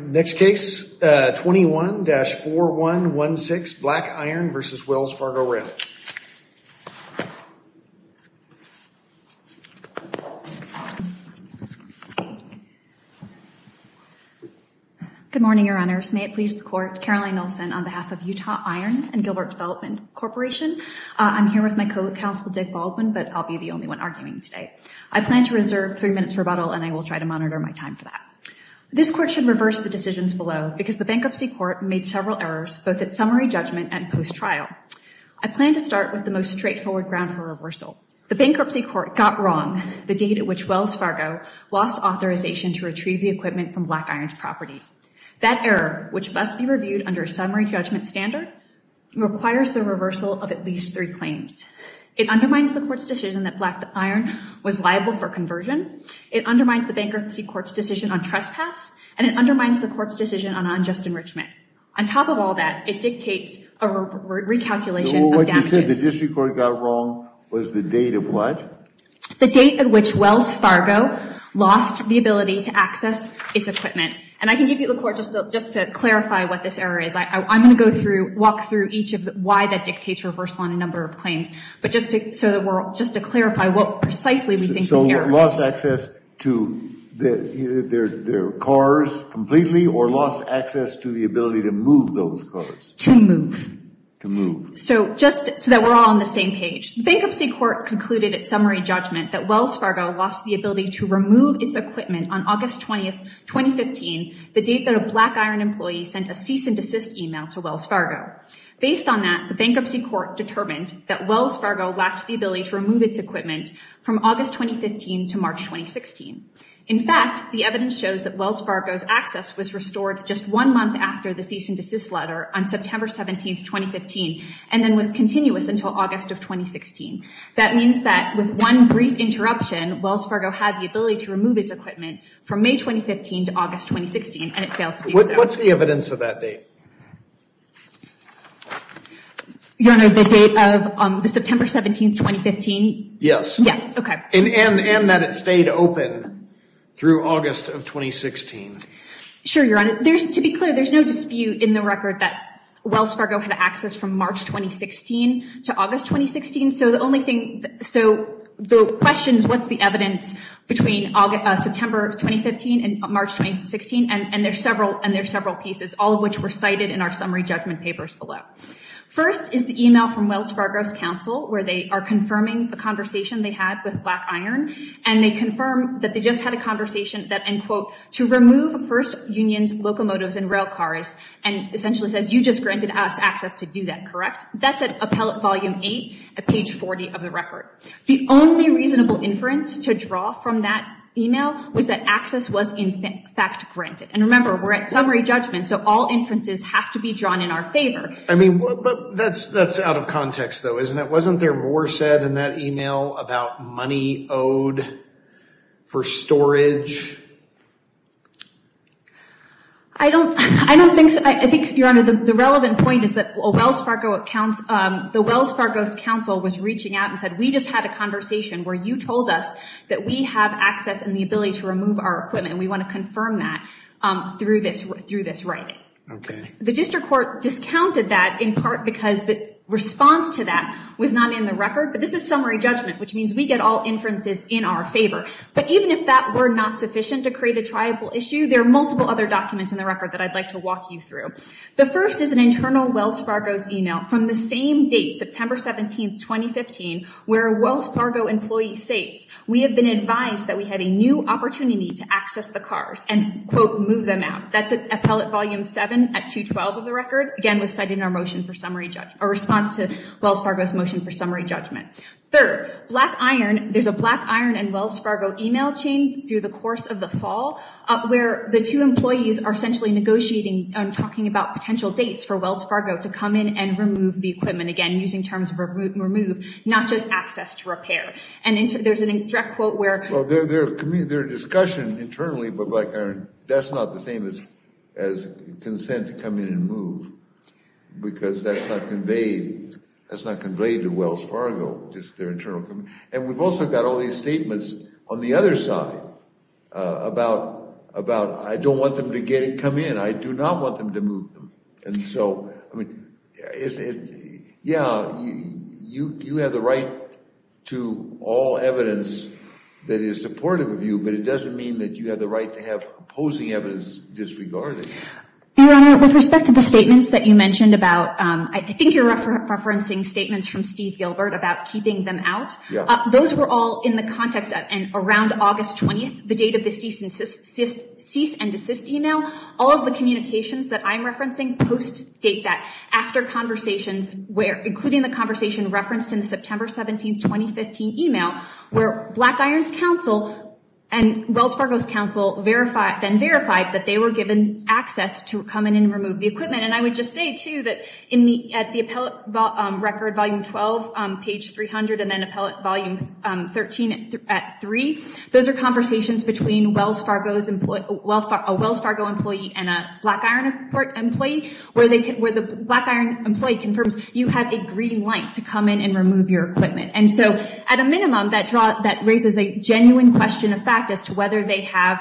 Next case, 21-4116, Black Iron v. Wells Fargo Rail Good morning, your honors. May it please the court, Caroline Olsen on behalf of Utah Iron and Gilbert Development Corporation. I'm here with my co-counsel, Dick Baldwin, but I'll be the only one arguing today. I plan to reserve three minutes rebuttal and I will try to monitor my time for that. This court should reverse the decisions below because the bankruptcy court made several errors both at summary judgment and post-trial. I plan to start with the most straightforward ground for reversal. The bankruptcy court got wrong the date at which Wells Fargo lost authorization to retrieve the equipment from Black Iron's property. That error, which must be reviewed under a summary judgment standard, requires the reversal of at least three claims. It undermines the court's decision that Black Iron was liable for conversion. It undermines the bankruptcy court's decision on trespass. And it undermines the court's decision on unjust enrichment. On top of all that, it dictates a recalculation of damages. So what you said, the district court got wrong was the date of what? The date at which Wells Fargo lost the ability to access its equipment. And I can give you the court just to clarify what this error is. I'm going to go through, walk through each of the why that dictates reversal on a number of claims. So lost access to their cars completely, or lost access to the ability to move those cars? To move. To move. So just so that we're all on the same page, the bankruptcy court concluded at summary judgment that Wells Fargo lost the ability to remove its equipment on August 20, 2015, the date that a Black Iron employee sent a cease and desist email to Wells Fargo. Based on that, the bankruptcy court determined that Wells Fargo lacked the ability to remove its equipment from August 2015 to March 2016. In fact, the evidence shows that Wells Fargo's access was restored just one month after the cease and desist letter on September 17, 2015, and then was continuous until August of 2016. That means that with one brief interruption, Wells Fargo had the ability to remove its equipment from May 2015 to August 2016, and it failed to do so. What's the evidence of that date? Your Honor, the date of the September 17, 2015? Yes. Yeah, okay. And that it stayed open through August of 2016. Sure, Your Honor. There's, to be clear, there's no dispute in the record that Wells Fargo had access from March 2016 to August 2016. So the only thing, so the question is what's the evidence between September 2015 and March 2016, and there's several pieces, all of which were cited in our summary judgment papers below. First is the email from Wells Fargo's counsel, where they are confirming the conversation they had with Black Iron, and they confirm that they just had a conversation that, and quote, to remove First Union's locomotives and rail cars, and essentially says, you just granted us access to do that, correct? That's at Appellate Volume 8 at page 40 of the record. The only reasonable inference to draw from that email was that access was, in fact, granted. And remember, we're at summary judgment, so all inferences have to be drawn in our favor. I mean, but that's out of context, though, isn't it? Wasn't there more said in that email about money owed for storage? I don't, I don't think so. I think, Your Honor, the relevant point is that Wells Fargo, the Wells Fargo's counsel was reaching out and said, we just had a conversation where you told us that we have access and the ability to remove our equipment, and we want to confirm that through this writing. The district court discounted that in part because the response to that was not in the record, but this is summary judgment, which means we get all inferences in our favor. But even if that were not sufficient to create a triable issue, there are multiple other documents in the record that I'd like to walk you through. The first is an internal Wells Fargo's email from the same date, September 17, 2015, where a Wells Fargo employee states, we have been advised that we have a new opportunity to access the cars and, quote, move them out. That's Appellate Volume 7 at 212 of the record, again, was cited in our motion for summary judgment, a response to Wells Fargo's motion for summary judgment. Third, Black Iron, there's a Black Iron and Wells Fargo email chain through the course of the fall, where the two employees are essentially negotiating and talking about potential dates for Wells Fargo to come in and remove the equipment, again, using terms of remove, not just access to repair. And there's a direct quote where... Well, there's a discussion internally, but Black Iron, that's not the same as consent to come in and move, because that's not conveyed to Wells Fargo, just their internal... And we've also got all these statements on the other side about, I don't want them to come in. I do not want them to move them. And so, I mean, yeah, you have the right to all evidence that is supportive of you, but it doesn't mean that you have the right to have opposing evidence disregarded. Your Honor, with respect to the statements that you mentioned about, I think you're referencing statements from Steve Gilbert about keeping them out. Those were all in the context of, and around August 20th, the date of the cease and desist email, all of the communications that I'm referencing post-date that, after conversations, including the conversation referenced in the September 17th, 2015 email, where Black Iron's counsel and Wells Fargo's counsel then verified that they were given access to come in and remove the equipment. And I would just say, too, that at the appellate record, volume 12, page 300, and then appellate volume 13 at 3, those are conversations between a Wells Fargo employee and a Black Iron employee, where the Black Iron employee confirms you have a green light to come in and remove your equipment. And so, at a minimum, that raises a genuine question of fact as to whether they have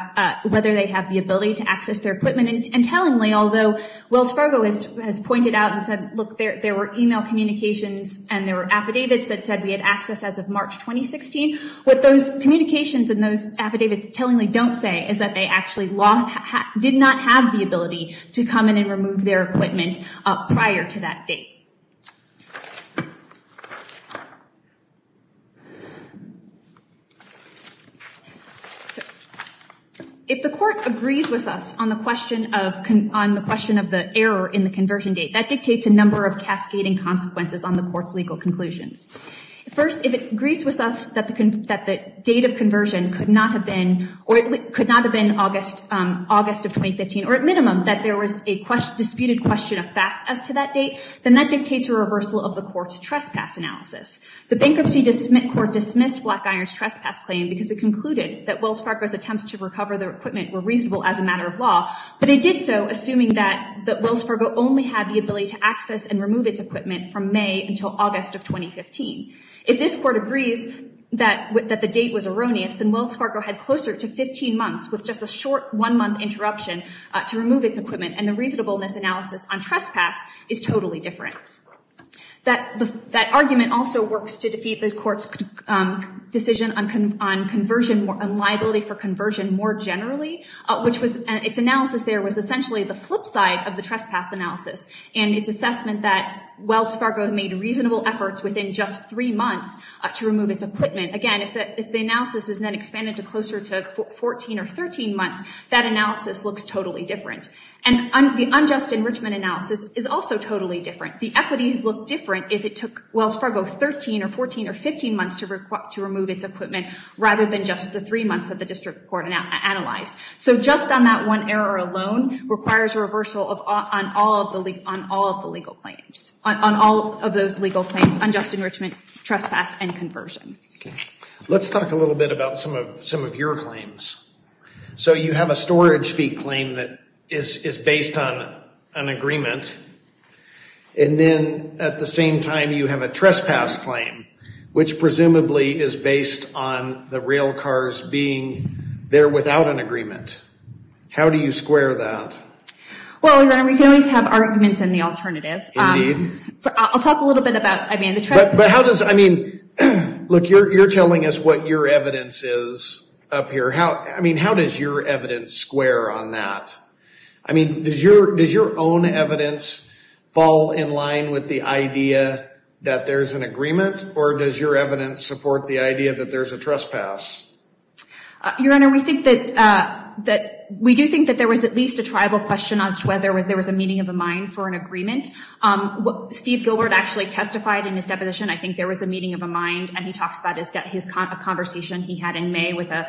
the Fargo has pointed out and said, look, there were email communications and there were affidavits that said we had access as of March 2016. What those communications and those affidavits tellingly don't say is that they actually did not have the ability to come in and remove their equipment prior to that date. So, if the court agrees with us on the question of the error in the conversion date, that dictates a number of cascading consequences on the court's legal conclusions. First, if it agrees with us that the date of conversion could not have been August of 2015, or at minimum, that there was a disputed question of fact as to that date, then that is a reversal of the court's trespass analysis. The bankruptcy court dismissed Black Iron's trespass claim because it concluded that Wells Fargo's attempts to recover their equipment were reasonable as a matter of law, but it did so assuming that Wells Fargo only had the ability to access and remove its equipment from May until August of 2015. If this court agrees that the date was erroneous, then Wells Fargo had closer to 15 months with just a short one-month interruption to remove its equipment, and the reasonableness analysis on trespass is totally different. That argument also works to defeat the court's decision on liability for conversion more generally, which its analysis there was essentially the flip side of the trespass analysis, and its assessment that Wells Fargo made reasonable efforts within just three months to remove its equipment. Again, if the analysis is then expanded to closer to 14 or 13 months, that analysis looks totally different. And the unjust enrichment analysis is also totally different. The equities look different if it took Wells Fargo 13 or 14 or 15 months to remove its equipment rather than just the three months that the district court analyzed. So just on that one error alone requires a reversal on all of the legal claims, on all of those legal claims, unjust enrichment, trespass, and conversion. Let's talk a little bit about some of your claims. So you have a storage-speak claim that is based on an agreement, and then at the same time you have a trespass claim, which presumably is based on the rail cars being there without an agreement. How do you square that? Well, we can always have arguments in the alternative. Indeed. I'll talk a little bit about, I mean, the trespass. But how does, I mean, look, you're telling us what your evidence is up here. I mean, how does your evidence square on that? I mean, does your own evidence fall in line with the idea that there's an agreement? Or does your evidence support the idea that there's a trespass? Your Honor, we do think that there was at least a tribal question as to whether there was a meeting of the mind for an agreement. Steve Gilbert actually testified in his deposition. I think there was a meeting of a mind, and he talks about a conversation he had in May with a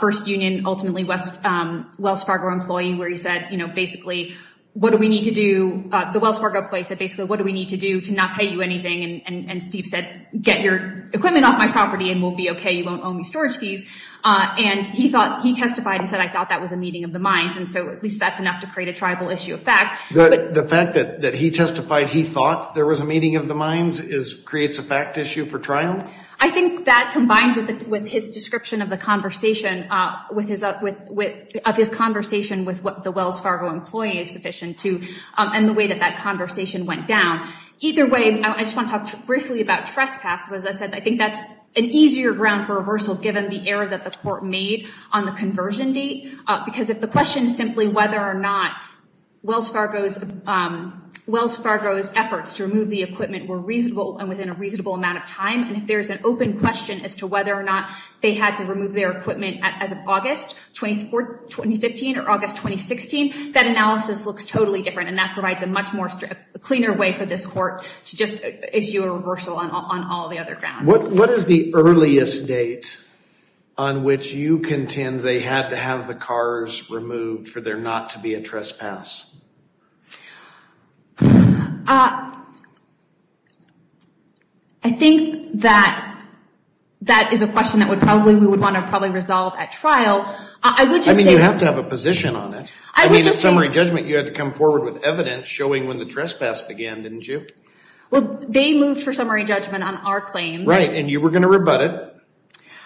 First Union, ultimately, Wells Fargo employee, where he said, you know, basically, what do we need to do? The Wells Fargo employee said, basically, what do we need to do to not pay you anything? And Steve said, get your equipment off my property and we'll be okay. You won't owe me storage fees. And he testified and said, I thought that was a meeting of the minds, and so at least that's enough to create a tribal issue of fact. The fact that he testified he thought there was a meeting of the minds creates a fact issue for trial? I think that combined with his description of the conversation, of his conversation with what the Wells Fargo employee is sufficient to, and the way that that conversation went down. Either way, I just want to talk briefly about trespass, because as I said, I think that's an easier ground for reversal given the error that the court made on the conversion date. Because if the question is simply whether or not Wells Fargo's efforts to remove the there's an open question as to whether or not they had to remove their equipment as of August 2015 or August 2016, that analysis looks totally different and that provides a much more cleaner way for this court to just issue a reversal on all the other grounds. What is the earliest date on which you contend they had to have the cars removed for there not to be a trespass? I think that that is a question that we would want to probably resolve at trial. I mean, you have to have a position on it. I mean, at summary judgment you had to come forward with evidence showing when the trespass began, didn't you? Well, they moved for summary judgment on our claim. Right, and you were going to rebut it.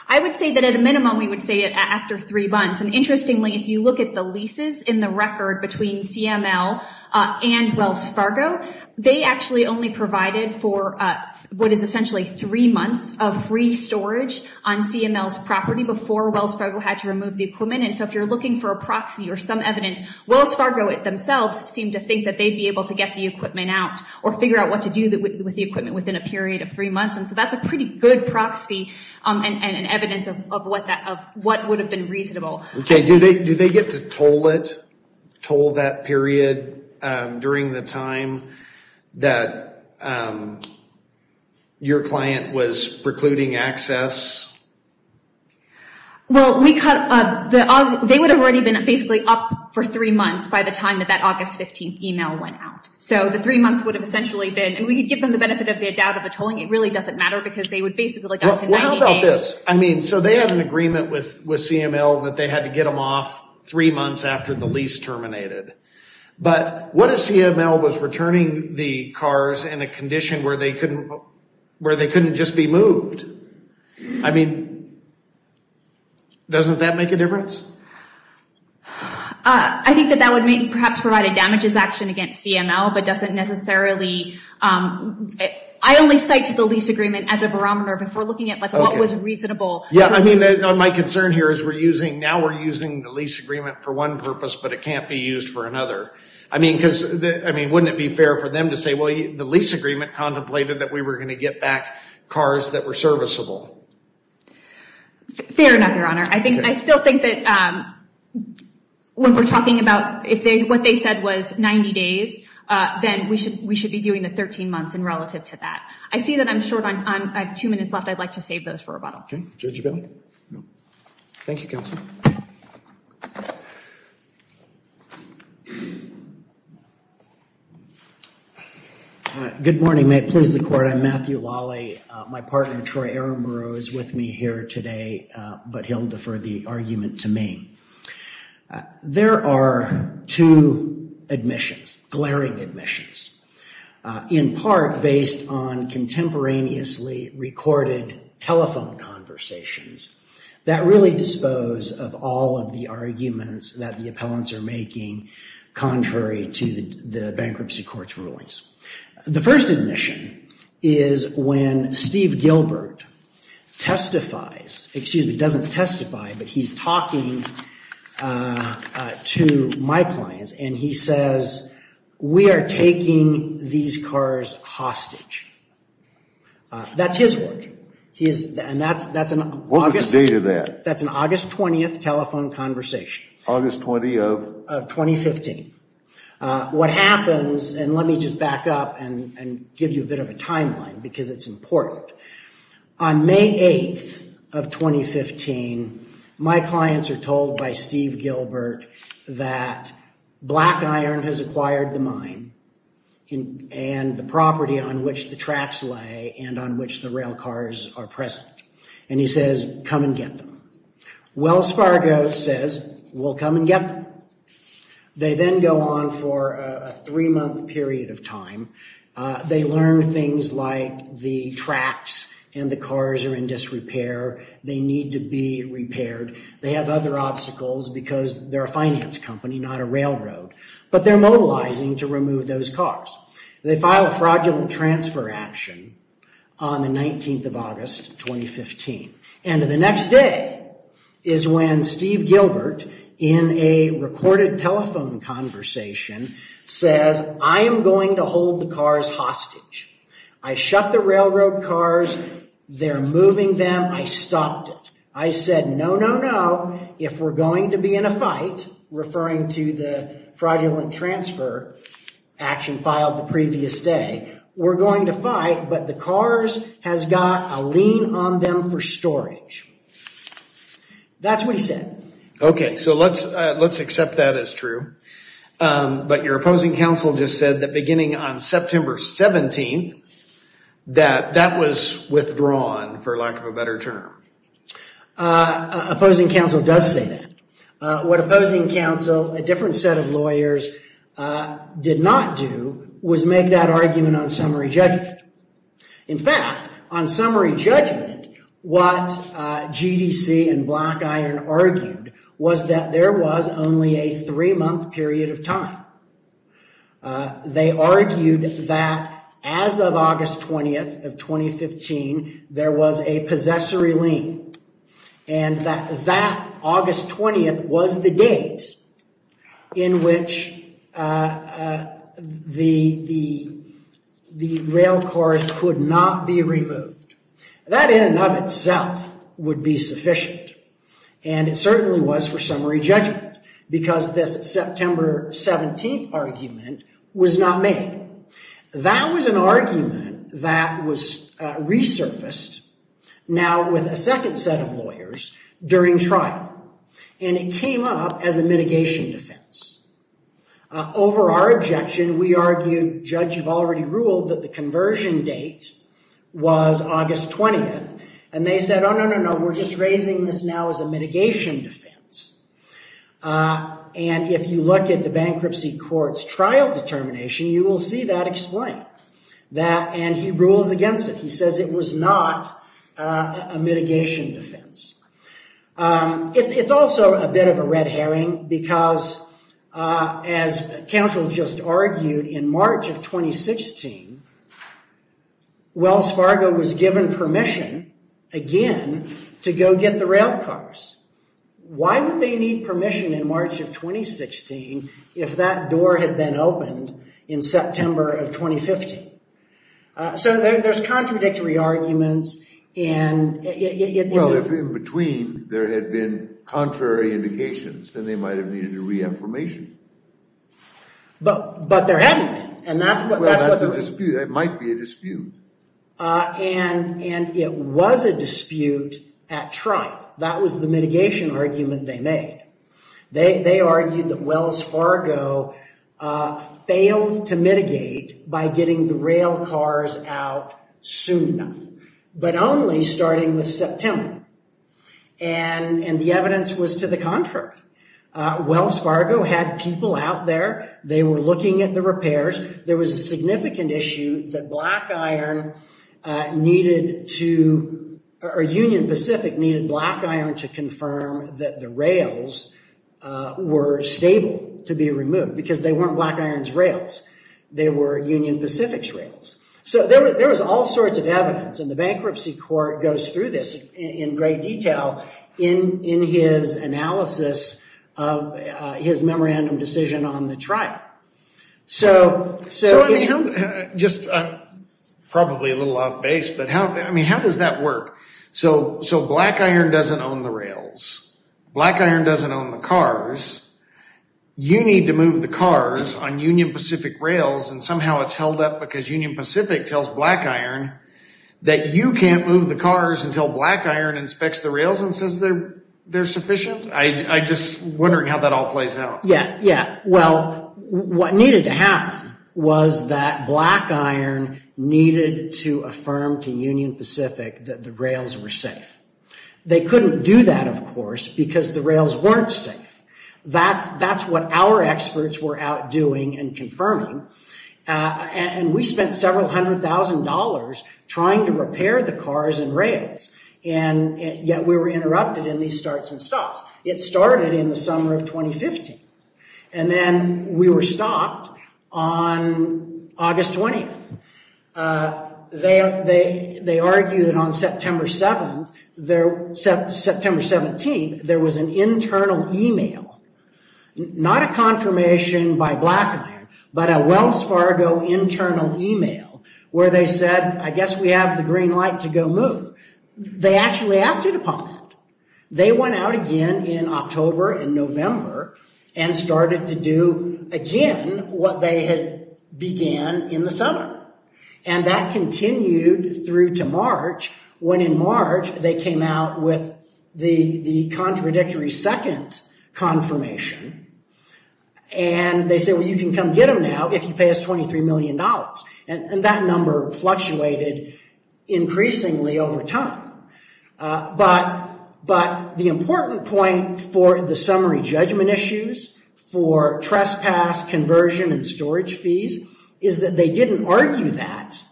I would say that at a minimum we would say it after three months. And interestingly, if you look at the leases in the record between CML and Wells Fargo, they actually only provided for what is essentially three months of free storage on CML's property before Wells Fargo had to remove the equipment. And so if you're looking for a proxy or some evidence, Wells Fargo themselves seem to think that they'd be able to get the equipment out or figure out what to do with the equipment within a period of three months. And so that's a pretty good proxy and evidence of what would have been reasonable. Okay, do they get to toll it, toll that period during the time that your client was precluding access? Well, they would have already been basically up for three months by the time that that August 15th email went out. So the three months would have essentially been, and we could give them the benefit of the tolling, it really doesn't matter because they would basically go to 90 days. Well, how about this? I mean, so they had an agreement with CML that they had to get them off three months after the lease terminated. But what if CML was returning the cars in a condition where they couldn't just be moved? I mean, doesn't that make a difference? I think that that would mean perhaps provide a damages action against CML, but doesn't cite to the lease agreement as a barometer of if we're looking at what was reasonable. Yeah, I mean, my concern here is we're using, now we're using the lease agreement for one purpose, but it can't be used for another. I mean, because I mean, wouldn't it be fair for them to say, well, the lease agreement contemplated that we were going to get back cars that were serviceable? Fair enough, Your Honor. I think I still think that when we're talking about if what they said was 90 days, then we should we should be doing the 13 months in relative to that. I see that I'm short on, I have two minutes left. I'd like to save those for rebuttal. OK, Judge O'Bell. Thank you, counsel. Good morning, may it please the court. I'm Matthew Lawley. My partner, Troy Aramuro, is with me here today, but he'll defer the argument to me. There are two admissions, glaring admissions, in part based on contemporaneously recorded telephone conversations that really dispose of all of the arguments that the appellants are making contrary to the bankruptcy court's rulings. The first admission is when Steve Gilbert testifies, excuse me, doesn't testify, but he's talking to my clients and he says, we are taking these cars hostage. That's his word. What was the date of that? That's an August 20th telephone conversation. August 20 of? Of 2015. What happens, and let me just back up and give you a bit of a timeline because it's important. On May 8th of 2015, my clients are told by Steve Gilbert that Black Iron has acquired the mine and the property on which the tracks lay and on which the rail cars are present. And he says, come and get them. Wells Fargo says, we'll come and get them. They then go on for a three month period of time. They learn things like the tracks and the cars are in disrepair. They need to be repaired. They have other obstacles because they're a finance company, not a railroad. But they're mobilizing to remove those cars. They file a fraudulent transfer action on the 19th of August 2015. And the next day is when Steve Gilbert, in a recorded telephone conversation, says, I am going to hold the cars hostage. I shut the railroad cars. They're moving them. I stopped it. I said, no, no, no. If we're going to be in a fight, referring to the fraudulent transfer action filed the previous day, we're going to fight. But the cars has got a lien on them for storage. That's what he said. OK, so let's let's accept that as true. But your opposing counsel just said that beginning on September 17th that that was withdrawn, for lack of a better term. Opposing counsel does say that. What opposing counsel, a different set of lawyers, did not do was make that argument on summary judgment. In fact, on summary judgment, what GDC and Black Iron argued was that there was only a three month period of time. They argued that as of August 20th of 2015, there was a possessory lien. And that that August 20th was the date in which the the the rail cars could not be removed. That in and of itself would be sufficient. And it certainly was for summary judgment because this September 17th argument was not made. That was an argument that was resurfaced now with a second set of lawyers during trial. And it came up as a mitigation defense. Over our objection, we argued, Judge, you've already ruled that the conversion date was August 20th. And they said, oh, no, no, no, we're just raising this now as a mitigation defense. And if you look at the bankruptcy court's trial determination, you will see that explained. And he rules against it. He says it was not a mitigation defense. It's also a bit of a red herring because, as counsel just argued, in March of 2016, Wells Fargo was given permission again to go get the rail cars. Why would they need permission in March of 2016 if that door had been opened in September of 2015? So there's contradictory arguments. And in between, there had been contrary indications and they might have needed a reaffirmation. But there hadn't been. And that's what the dispute might be a dispute. And it was a dispute at trial. That was the mitigation argument they made. They argued that Wells Fargo failed to mitigate by getting the rail cars out soon enough, but only starting with September. And the evidence was to the contrary. Wells Fargo had people out there. They were looking at the repairs. There was a significant issue that Black Iron needed to, or Union Pacific needed Black Iron to confirm that the rails were stable to be removed because they weren't Black Iron's rails. They were Union Pacific's rails. So there was all sorts of evidence. And the bankruptcy court goes through this in great detail in his analysis of his memorandum decision on the trial. So, so just probably a little off base, but how, I mean, how does that work? So, so Black Iron doesn't own the rails. Black Iron doesn't own the cars. You need to move the cars on Union Pacific rails. And somehow it's held up because Union Pacific tells Black Iron that you can't move the cars until Black Iron inspects the rails and says they're, they're sufficient. I just wondering how that all plays out. Yeah, yeah. Well, what needed to happen was that Black Iron needed to affirm to Union Pacific that the rails were safe. They couldn't do that, of course, because the rails weren't safe. That's, that's what our experts were out doing and confirming. And we spent several hundred thousand dollars trying to repair the cars and rails. And yet we were interrupted in these starts and stops. It started in the summer of 2015. And then we were stopped on August 20th. They, they, they argued that on September 7th, there, September 17th, there was an internal email where they said, I guess we have the green light to go move. They actually acted upon it. They went out again in October and November and started to do again what they had began in the summer. And that continued through to March when in March they came out with the, the contradictory second confirmation. And they said, well, you can come get them now if you pay us $23 million. And that number fluctuated increasingly over time. But, but the important point for the summary judgment issues, for trespass, conversion and storage fees, is that they didn't argue that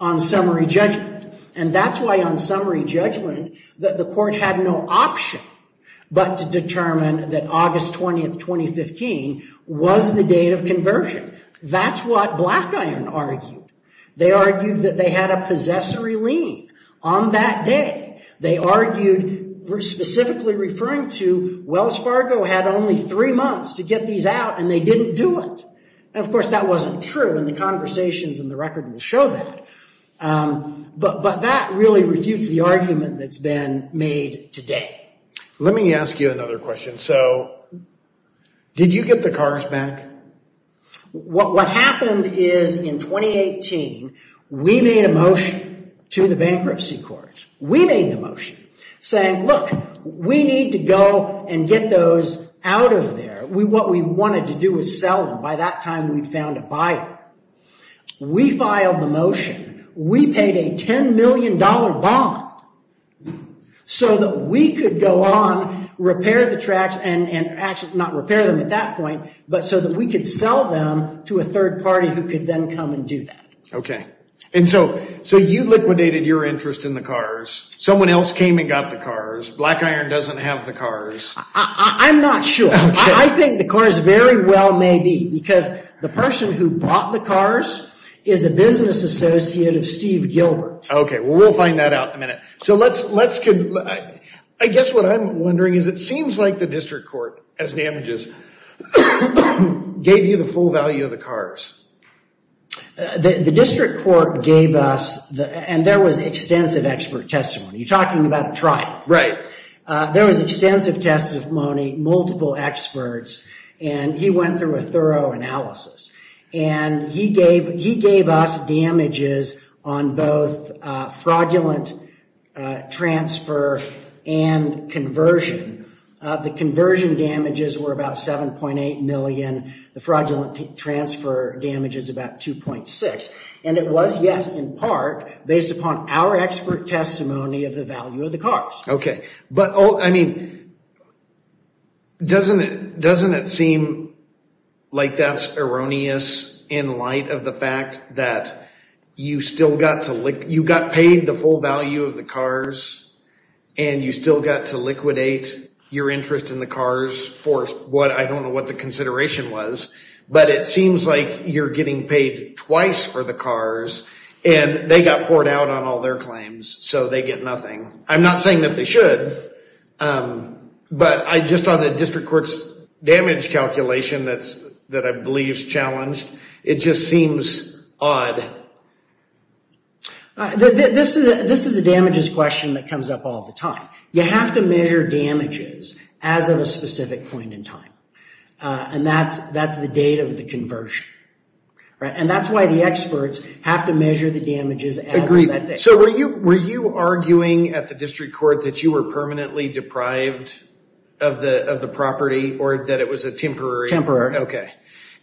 on summary judgment. And that's why on summary judgment, the court had no option but to determine that August 20th, 2015, was the date of conversion. That's what Blackiron argued. They argued that they had a possessory lien on that day. They argued, specifically referring to Wells Fargo had only three months to get these out and they didn't do it. And of course that wasn't true in the conversations and the record will show that. But, but that really refutes the argument that's been made today. Let me ask you another question. So, did you get the cars back? What, what happened is in 2018, we made a motion to the bankruptcy court. We made the motion saying, look, we need to go and get those out of there. We, what we wanted to do was sell them. By that time we'd found a buyer. We filed the motion. We paid a $10 million bond so that we could go on, repair the tracks and actually not repair them at that point, but so that we could sell them to a third party who could then come and do that. Okay. And so, so you liquidated your interest in the cars. Someone else came and got the cars. Blackiron doesn't have the cars. I'm not sure. I think the cars very well may be because the person who bought the cars is a business associate of Steve Gilbert. Okay. Well, we'll find that out in a minute. So let's, let's, I guess what I'm wondering is it seems like the district court, as damages, gave you the full value of the cars. The district court gave us the, and there was extensive expert testimony. You're talking about a trial. Right. There was extensive testimony, multiple experts, and he went through a thorough analysis and he gave, he gave us damages on both fraudulent transfer and conversion. The conversion damages were about $7.8 million. The fraudulent transfer damage is about $2.6 million. And it was, yes, in part based upon our expert testimony of the value of the cars. Okay. But, oh, I mean, doesn't it, doesn't it seem like that's erroneous in light of the fact that you still got to lick, you got paid the full value of the cars and you still got to liquidate your interest in the cars for what, I don't know what the consideration was, but it seems like you're getting paid twice for the cars and they got poured out on all their claims. So they get nothing. I'm not saying that they should, but I just, on the district court's damage calculation, that's, that I believe is challenged. It just seems odd. This is, this is the damages question that comes up all the time. You have to measure damages as of a specific point in time. And that's, that's the date of the conversion. Right. And that's why the experts have to measure the damages as of that date. So were you, were you arguing at the district court that you were permanently deprived of the, of the property or that it was a temporary? Temporary. Okay.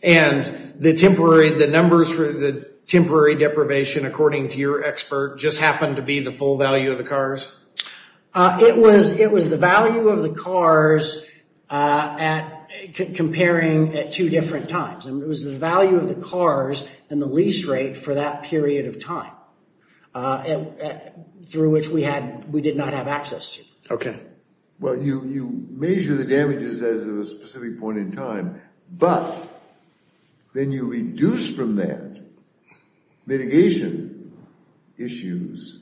And the temporary, the numbers for the temporary deprivation, according to your expert, just happened to be the full value of the cars? It was, it was the value of the cars at comparing at two different times. I mean, it was the value of the cars and the lease rate for that period of time. And through which we had, we did not have access to. Okay. Well, you, you measure the damages as of a specific point in time, but then you reduce from that mitigation issues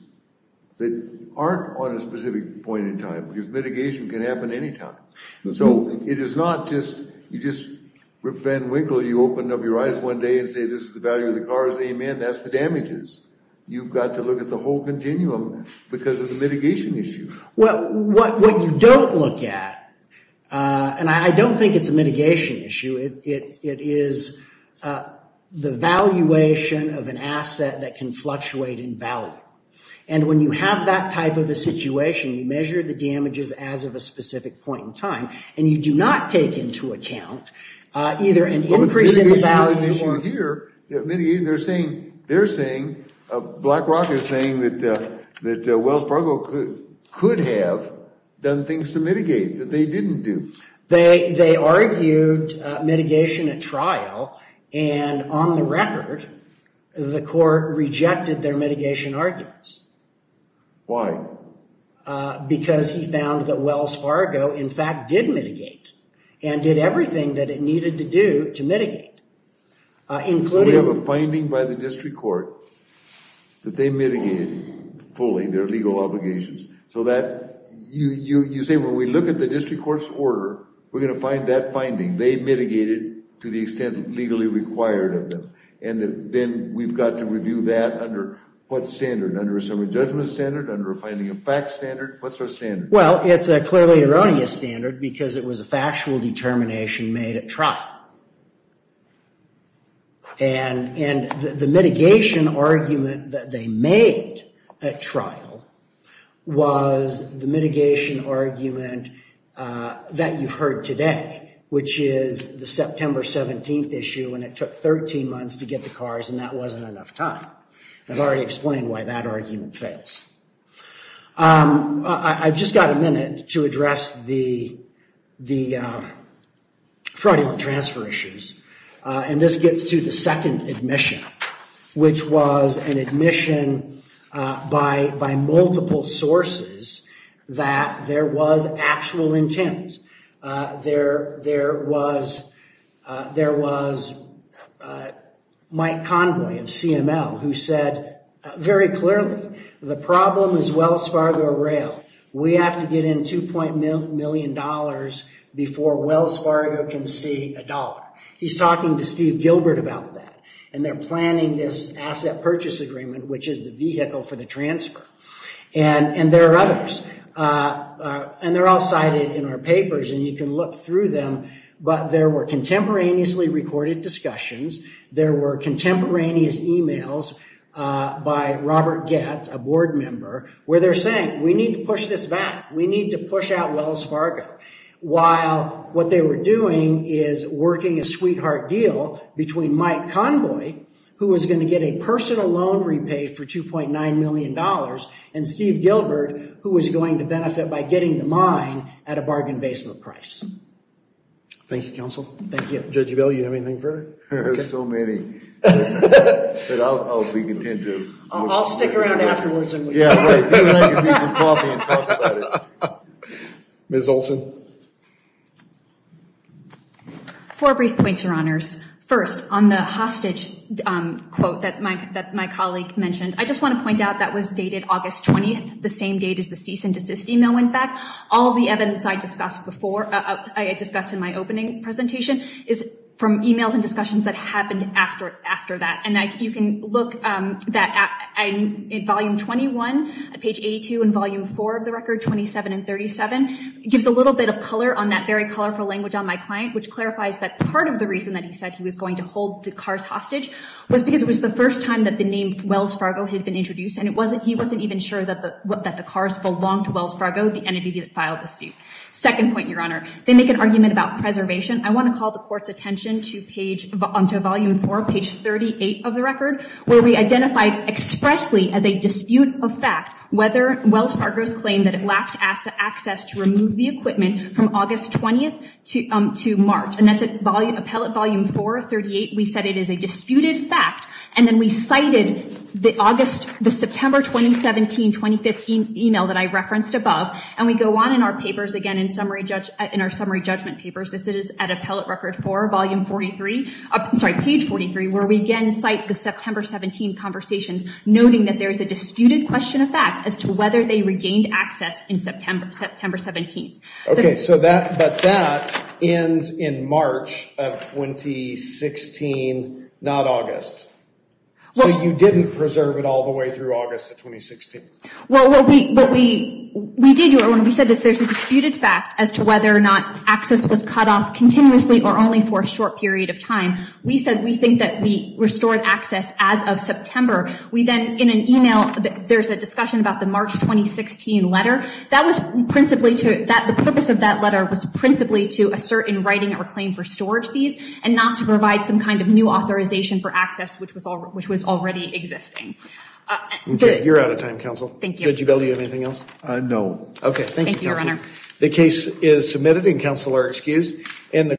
that aren't on a specific point in time, because mitigation can happen anytime. So it is not just, you just Rip Van Winkle, you opened up your eyes one day and say, this is the value of the cars. Amen. That's the damages. You've got to look at the whole continuum because of the mitigation issue. Well, what, what you don't look at and I don't think it's a mitigation issue. It, it, it is the valuation of an asset that can fluctuate in value. And when you have that type of a situation, you measure the damages as of a specific point in time and you do not take into account either an increase in the value. As you hear, they're saying, they're saying, BlackRock is saying that, that Wells Fargo could have done things to mitigate that they didn't do. They, they argued mitigation at trial. And on the record, the court rejected their mitigation arguments. Why? Because he found that Wells Fargo in fact did mitigate and did everything that it needed to do to mitigate. Including. We have a finding by the district court that they mitigated fully their legal obligations so that you, you, you say, when we look at the district court's order, we're going to find that finding. They mitigated to the extent legally required of them. And then we've got to review that under what standard? Under a summary judgment standard? Under a finding of facts standard? What's our standard? factual determination made at trial. And, and the mitigation argument that they made at trial was the mitigation argument that you've heard today, which is the September 17th issue. And it took 13 months to get the cars and that wasn't enough time. I've already explained why that argument fails. I've just got a minute to address the, the fraudulent transfer issues. And this gets to the second admission, which was an admission by, by multiple sources that there was actual intent. There, there was, there was Mike Conway of CML who said very clearly, the problem is Wells Fargo rail. We have to get in $2. million before Wells Fargo can see a dollar. He's talking to Steve Gilbert about that. And they're planning this asset purchase agreement, which is the vehicle for the transfer. And, and there are others and they're all cited in our papers and you can look through them. But there were contemporaneously recorded discussions. There were contemporaneous emails by Robert Getz, a board member, where they're saying, we need to push this back. We need to push out Wells Fargo. While what they were doing is working a sweetheart deal between Mike Conway, who was going to get a personal loan repaid for $2. million and Steve Gilbert, who was going to benefit by getting the mine at a bargain basement price. Thank you, counsel. Thank you. Judge Ebell, you have anything further? There's so many. But I'll, I'll be content to. I'll stick around afterwards. Yeah, right. Ms. Olson. Four brief points, your honors. First on the hostage quote that Mike, that my colleague mentioned, I just want to point out that was dated August 20th, the same date as the cease and desist email went back. All the evidence I discussed before, I discussed in my opening presentation is from emails and discussions that happened after, after that. And I, you can look that at, in volume 21, page 82 and volume four of the record, 27 and 37, gives a little bit of color on that very colorful language on my client, which clarifies that part of the reason that he said he was going to hold the cars hostage was because it was the first time that the name Wells Fargo had been introduced. And it wasn't, he wasn't even sure that the, that the cars belonged to Wells Fargo, the entity that filed the suit. Second point, your honor, they make an argument about preservation. I want to call the court's attention to page, to volume four, page 38 of the record, where we identified expressly as a dispute of fact, whether Wells Fargo's claim that it lacked access to remove the equipment from August 20th to March. And that's a volume, appellate volume four, 38. We said it is a disputed fact, and then we cited the August, the September 2017, 25th email that I referenced above. And we go on in our papers again, in summary judge, in our summary judgment papers, this is at appellate record for volume 43, sorry, page 43, where we again cite the September 17 conversations, noting that there is a disputed question of fact as to whether they regained access in September, September 17. Okay. So that, but that ends in March of 2016, not August. So you didn't preserve it all the way through August of 2016. Well, what we, what we, we did do it when we said this, there's a disputed fact as to whether or not access was cut off continuously or only for a short period of time, we said, we think that we restored access as of September, we then in an email, there's a discussion about the March, 2016 letter that was principally to that, the purpose of that letter was principally to assert in writing or claim for storage fees and not to provide some kind of new authorization for access, which was all, which was already existing. Okay. You're out of time. Counsel. Thank you. Did you value anything else? Uh, no. Okay. Thank you. The case is submitted and counsel are excused.